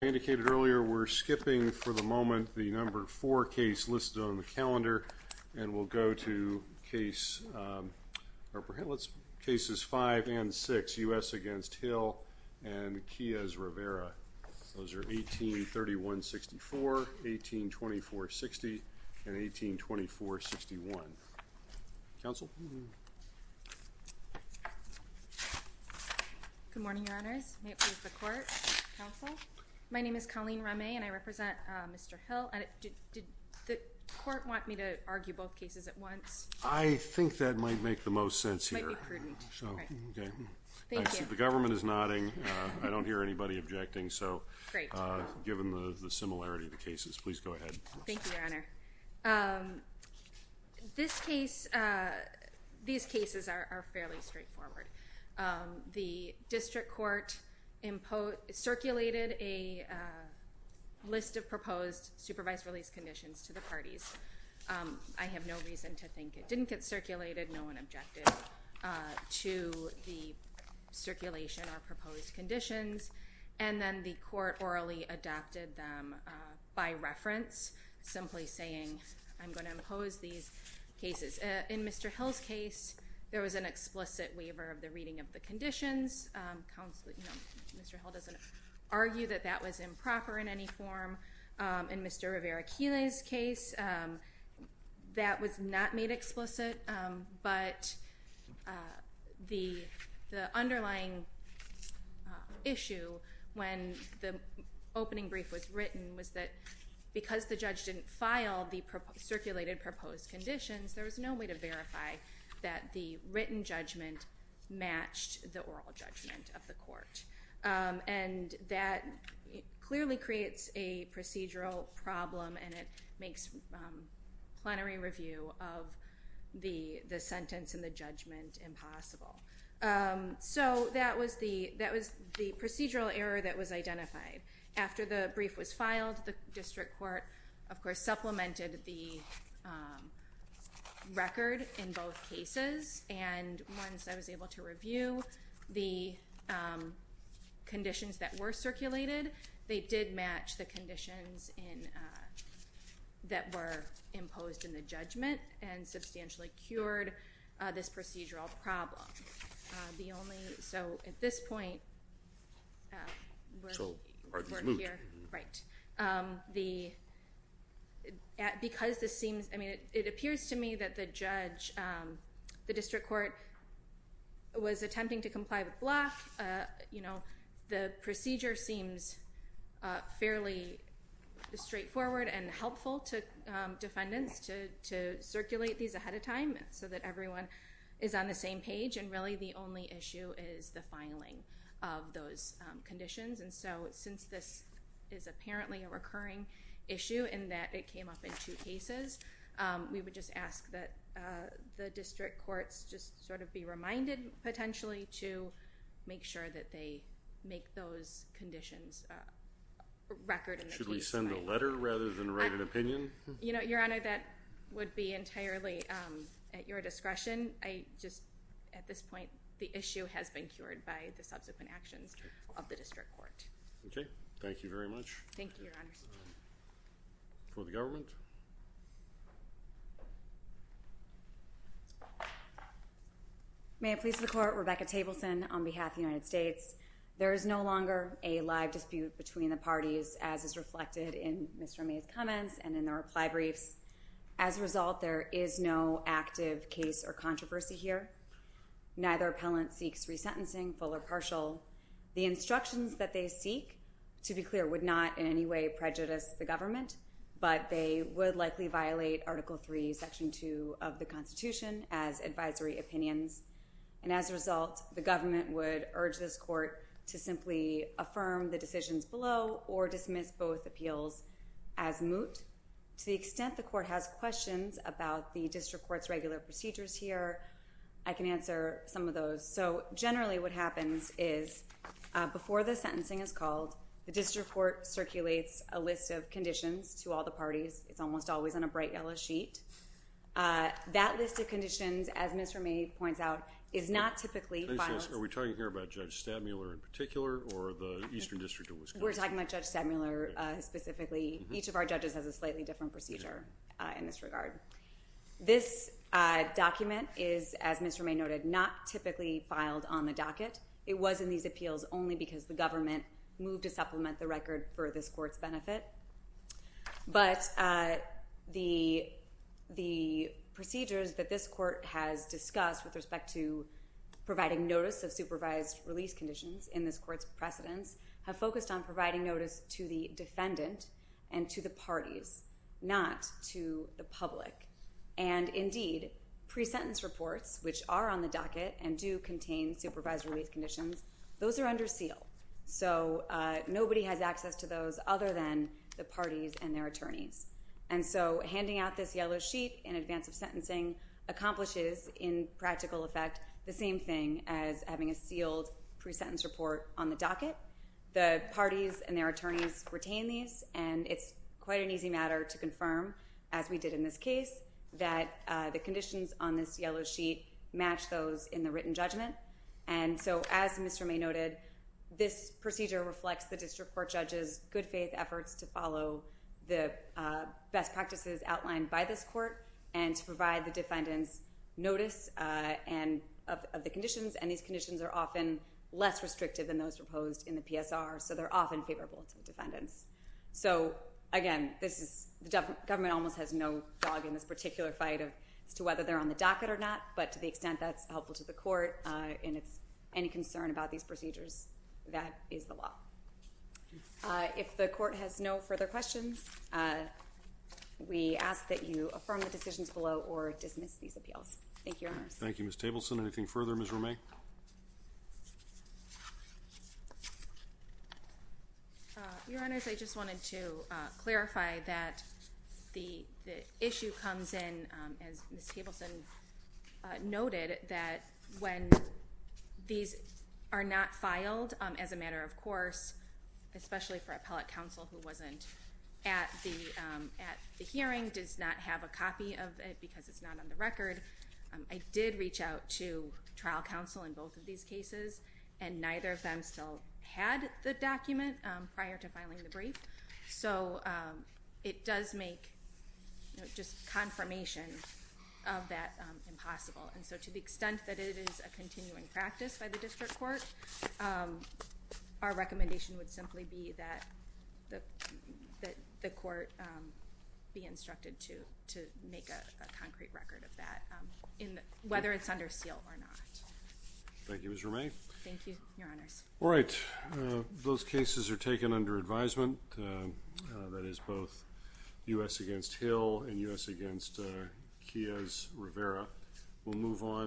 Indicated earlier we're skipping for the moment the number four case listed on the calendar and we'll go to case let's cases five and six u.s. against Hill and Kia's Rivera those are 1831 64 1824 60 and 1824 61 council my name is Colleen Remy and I represent mr. Hill and it did the court want me to argue both cases at once I think that might make the most sense here the government is nodding I don't hear anybody objecting so given the these cases are fairly straightforward the district court imposed circulated a list of proposed supervised release conditions to the parties I have no reason to think it didn't get circulated no one objected to the circulation or proposed conditions and then the court orally adopted them by reference simply saying I'm going to impose these cases in mr. Hill's case there was an explicit waiver of the reading of the conditions council doesn't argue that that was improper in any form in mr. Rivera Keeley's case that was not made explicit but the the underlying issue when the opening brief was written was that because the judge didn't file the circulated proposed conditions there was no way to verify that the written judgment matched the oral judgment of the court and that clearly creates a procedural problem and it makes plenary review of the the sentence and the judgment impossible so that was the that was the procedural error that was identified after the brief was filed the district court of course supplemented the record in both cases and once I was able to review the conditions that were circulated they did match the conditions in that were imposed in the judgment and substantially cured this procedural problem the only so at this point the because this seems I mean it appears to me that the judge the district court was attempting to comply with block you know the procedure seems fairly straightforward and helpful to defendants to circulate these ahead of time so that everyone is on the same page and really the only issue is the filing of those conditions and so since this is apparently a recurring issue and that it came up in two cases we would just ask that the district courts just sort of be reminded potentially to make sure that they make those conditions record should we send a letter rather than write an attorney that would be entirely at your discretion I just at this point the issue has been cured by the subsequent actions of the district court okay thank you very much thank you for the government may I please the court Rebecca Tableson on behalf the United States there is no longer a live dispute between the parties as is reflected in mr. May's comments and in the reply briefs as a result there is no active case or controversy here neither appellant seeks resentencing full or partial the instructions that they seek to be clear would not in any way prejudice the government but they would likely violate article 3 section 2 of the Constitution as advisory opinions and as a result the government would urge this court to to the extent the court has questions about the district courts regular procedures here I can answer some of those so generally what happens is before the sentencing is called the district court circulates a list of conditions to all the parties it's almost always on a bright yellow sheet that list of conditions as mr. May points out is not typically are we talking here about judge Stadmuller in particular or the Eastern District we're a slightly different procedure in this regard this document is as mr. May noted not typically filed on the docket it was in these appeals only because the government moved to supplement the record for this court's benefit but the the procedures that this court has discussed with respect to providing notice of supervised release conditions in this court's precedents have focused on providing notice to the defendant and to the parties not to the public and indeed pre-sentence reports which are on the docket and do contain supervised release conditions those are under seal so nobody has access to those other than the parties and their attorneys and so handing out this yellow sheet in advance of sentencing accomplishes in practical effect the same thing as having a sealed pre-sentence report on the docket the parties and their attorneys retain these and it's quite an easy matter to confirm as we did in this case that the conditions on this yellow sheet match those in the written judgment and so as mr. May noted this procedure reflects the district court judges good-faith efforts to follow the best practices outlined by this court and to provide the defendants notice and of the conditions and these conditions are often less restrictive than those proposed in the PSR so they're often favorable to defendants so again this is the government almost has no dog in this particular fight of to whether they're on the docket or not but to the extent that's helpful to the court and it's any concern about these procedures that is the law if the court has no further questions we ask that you affirm the decisions below or dismiss these appeals thank you thank you miss Tableson anything further mr. May your honors I just wanted to clarify that the issue comes in as Miss Tableson noted that when these are not filed as a matter of course especially for appellate counsel who wasn't at the hearing does not have a copy of it because it's not on the record I did reach out to trial counsel in both of these cases and neither of them still had the document prior to filing the brief so it does make just confirmation of that impossible and so to the extent that it is a continuing practice by the district court our make a concrete record of that in whether it's under seal or not thank you as remain thank you your honors all right those cases are taken under advisement that is both u.s. against Hill and u.s. against Kia's Rivera we'll move on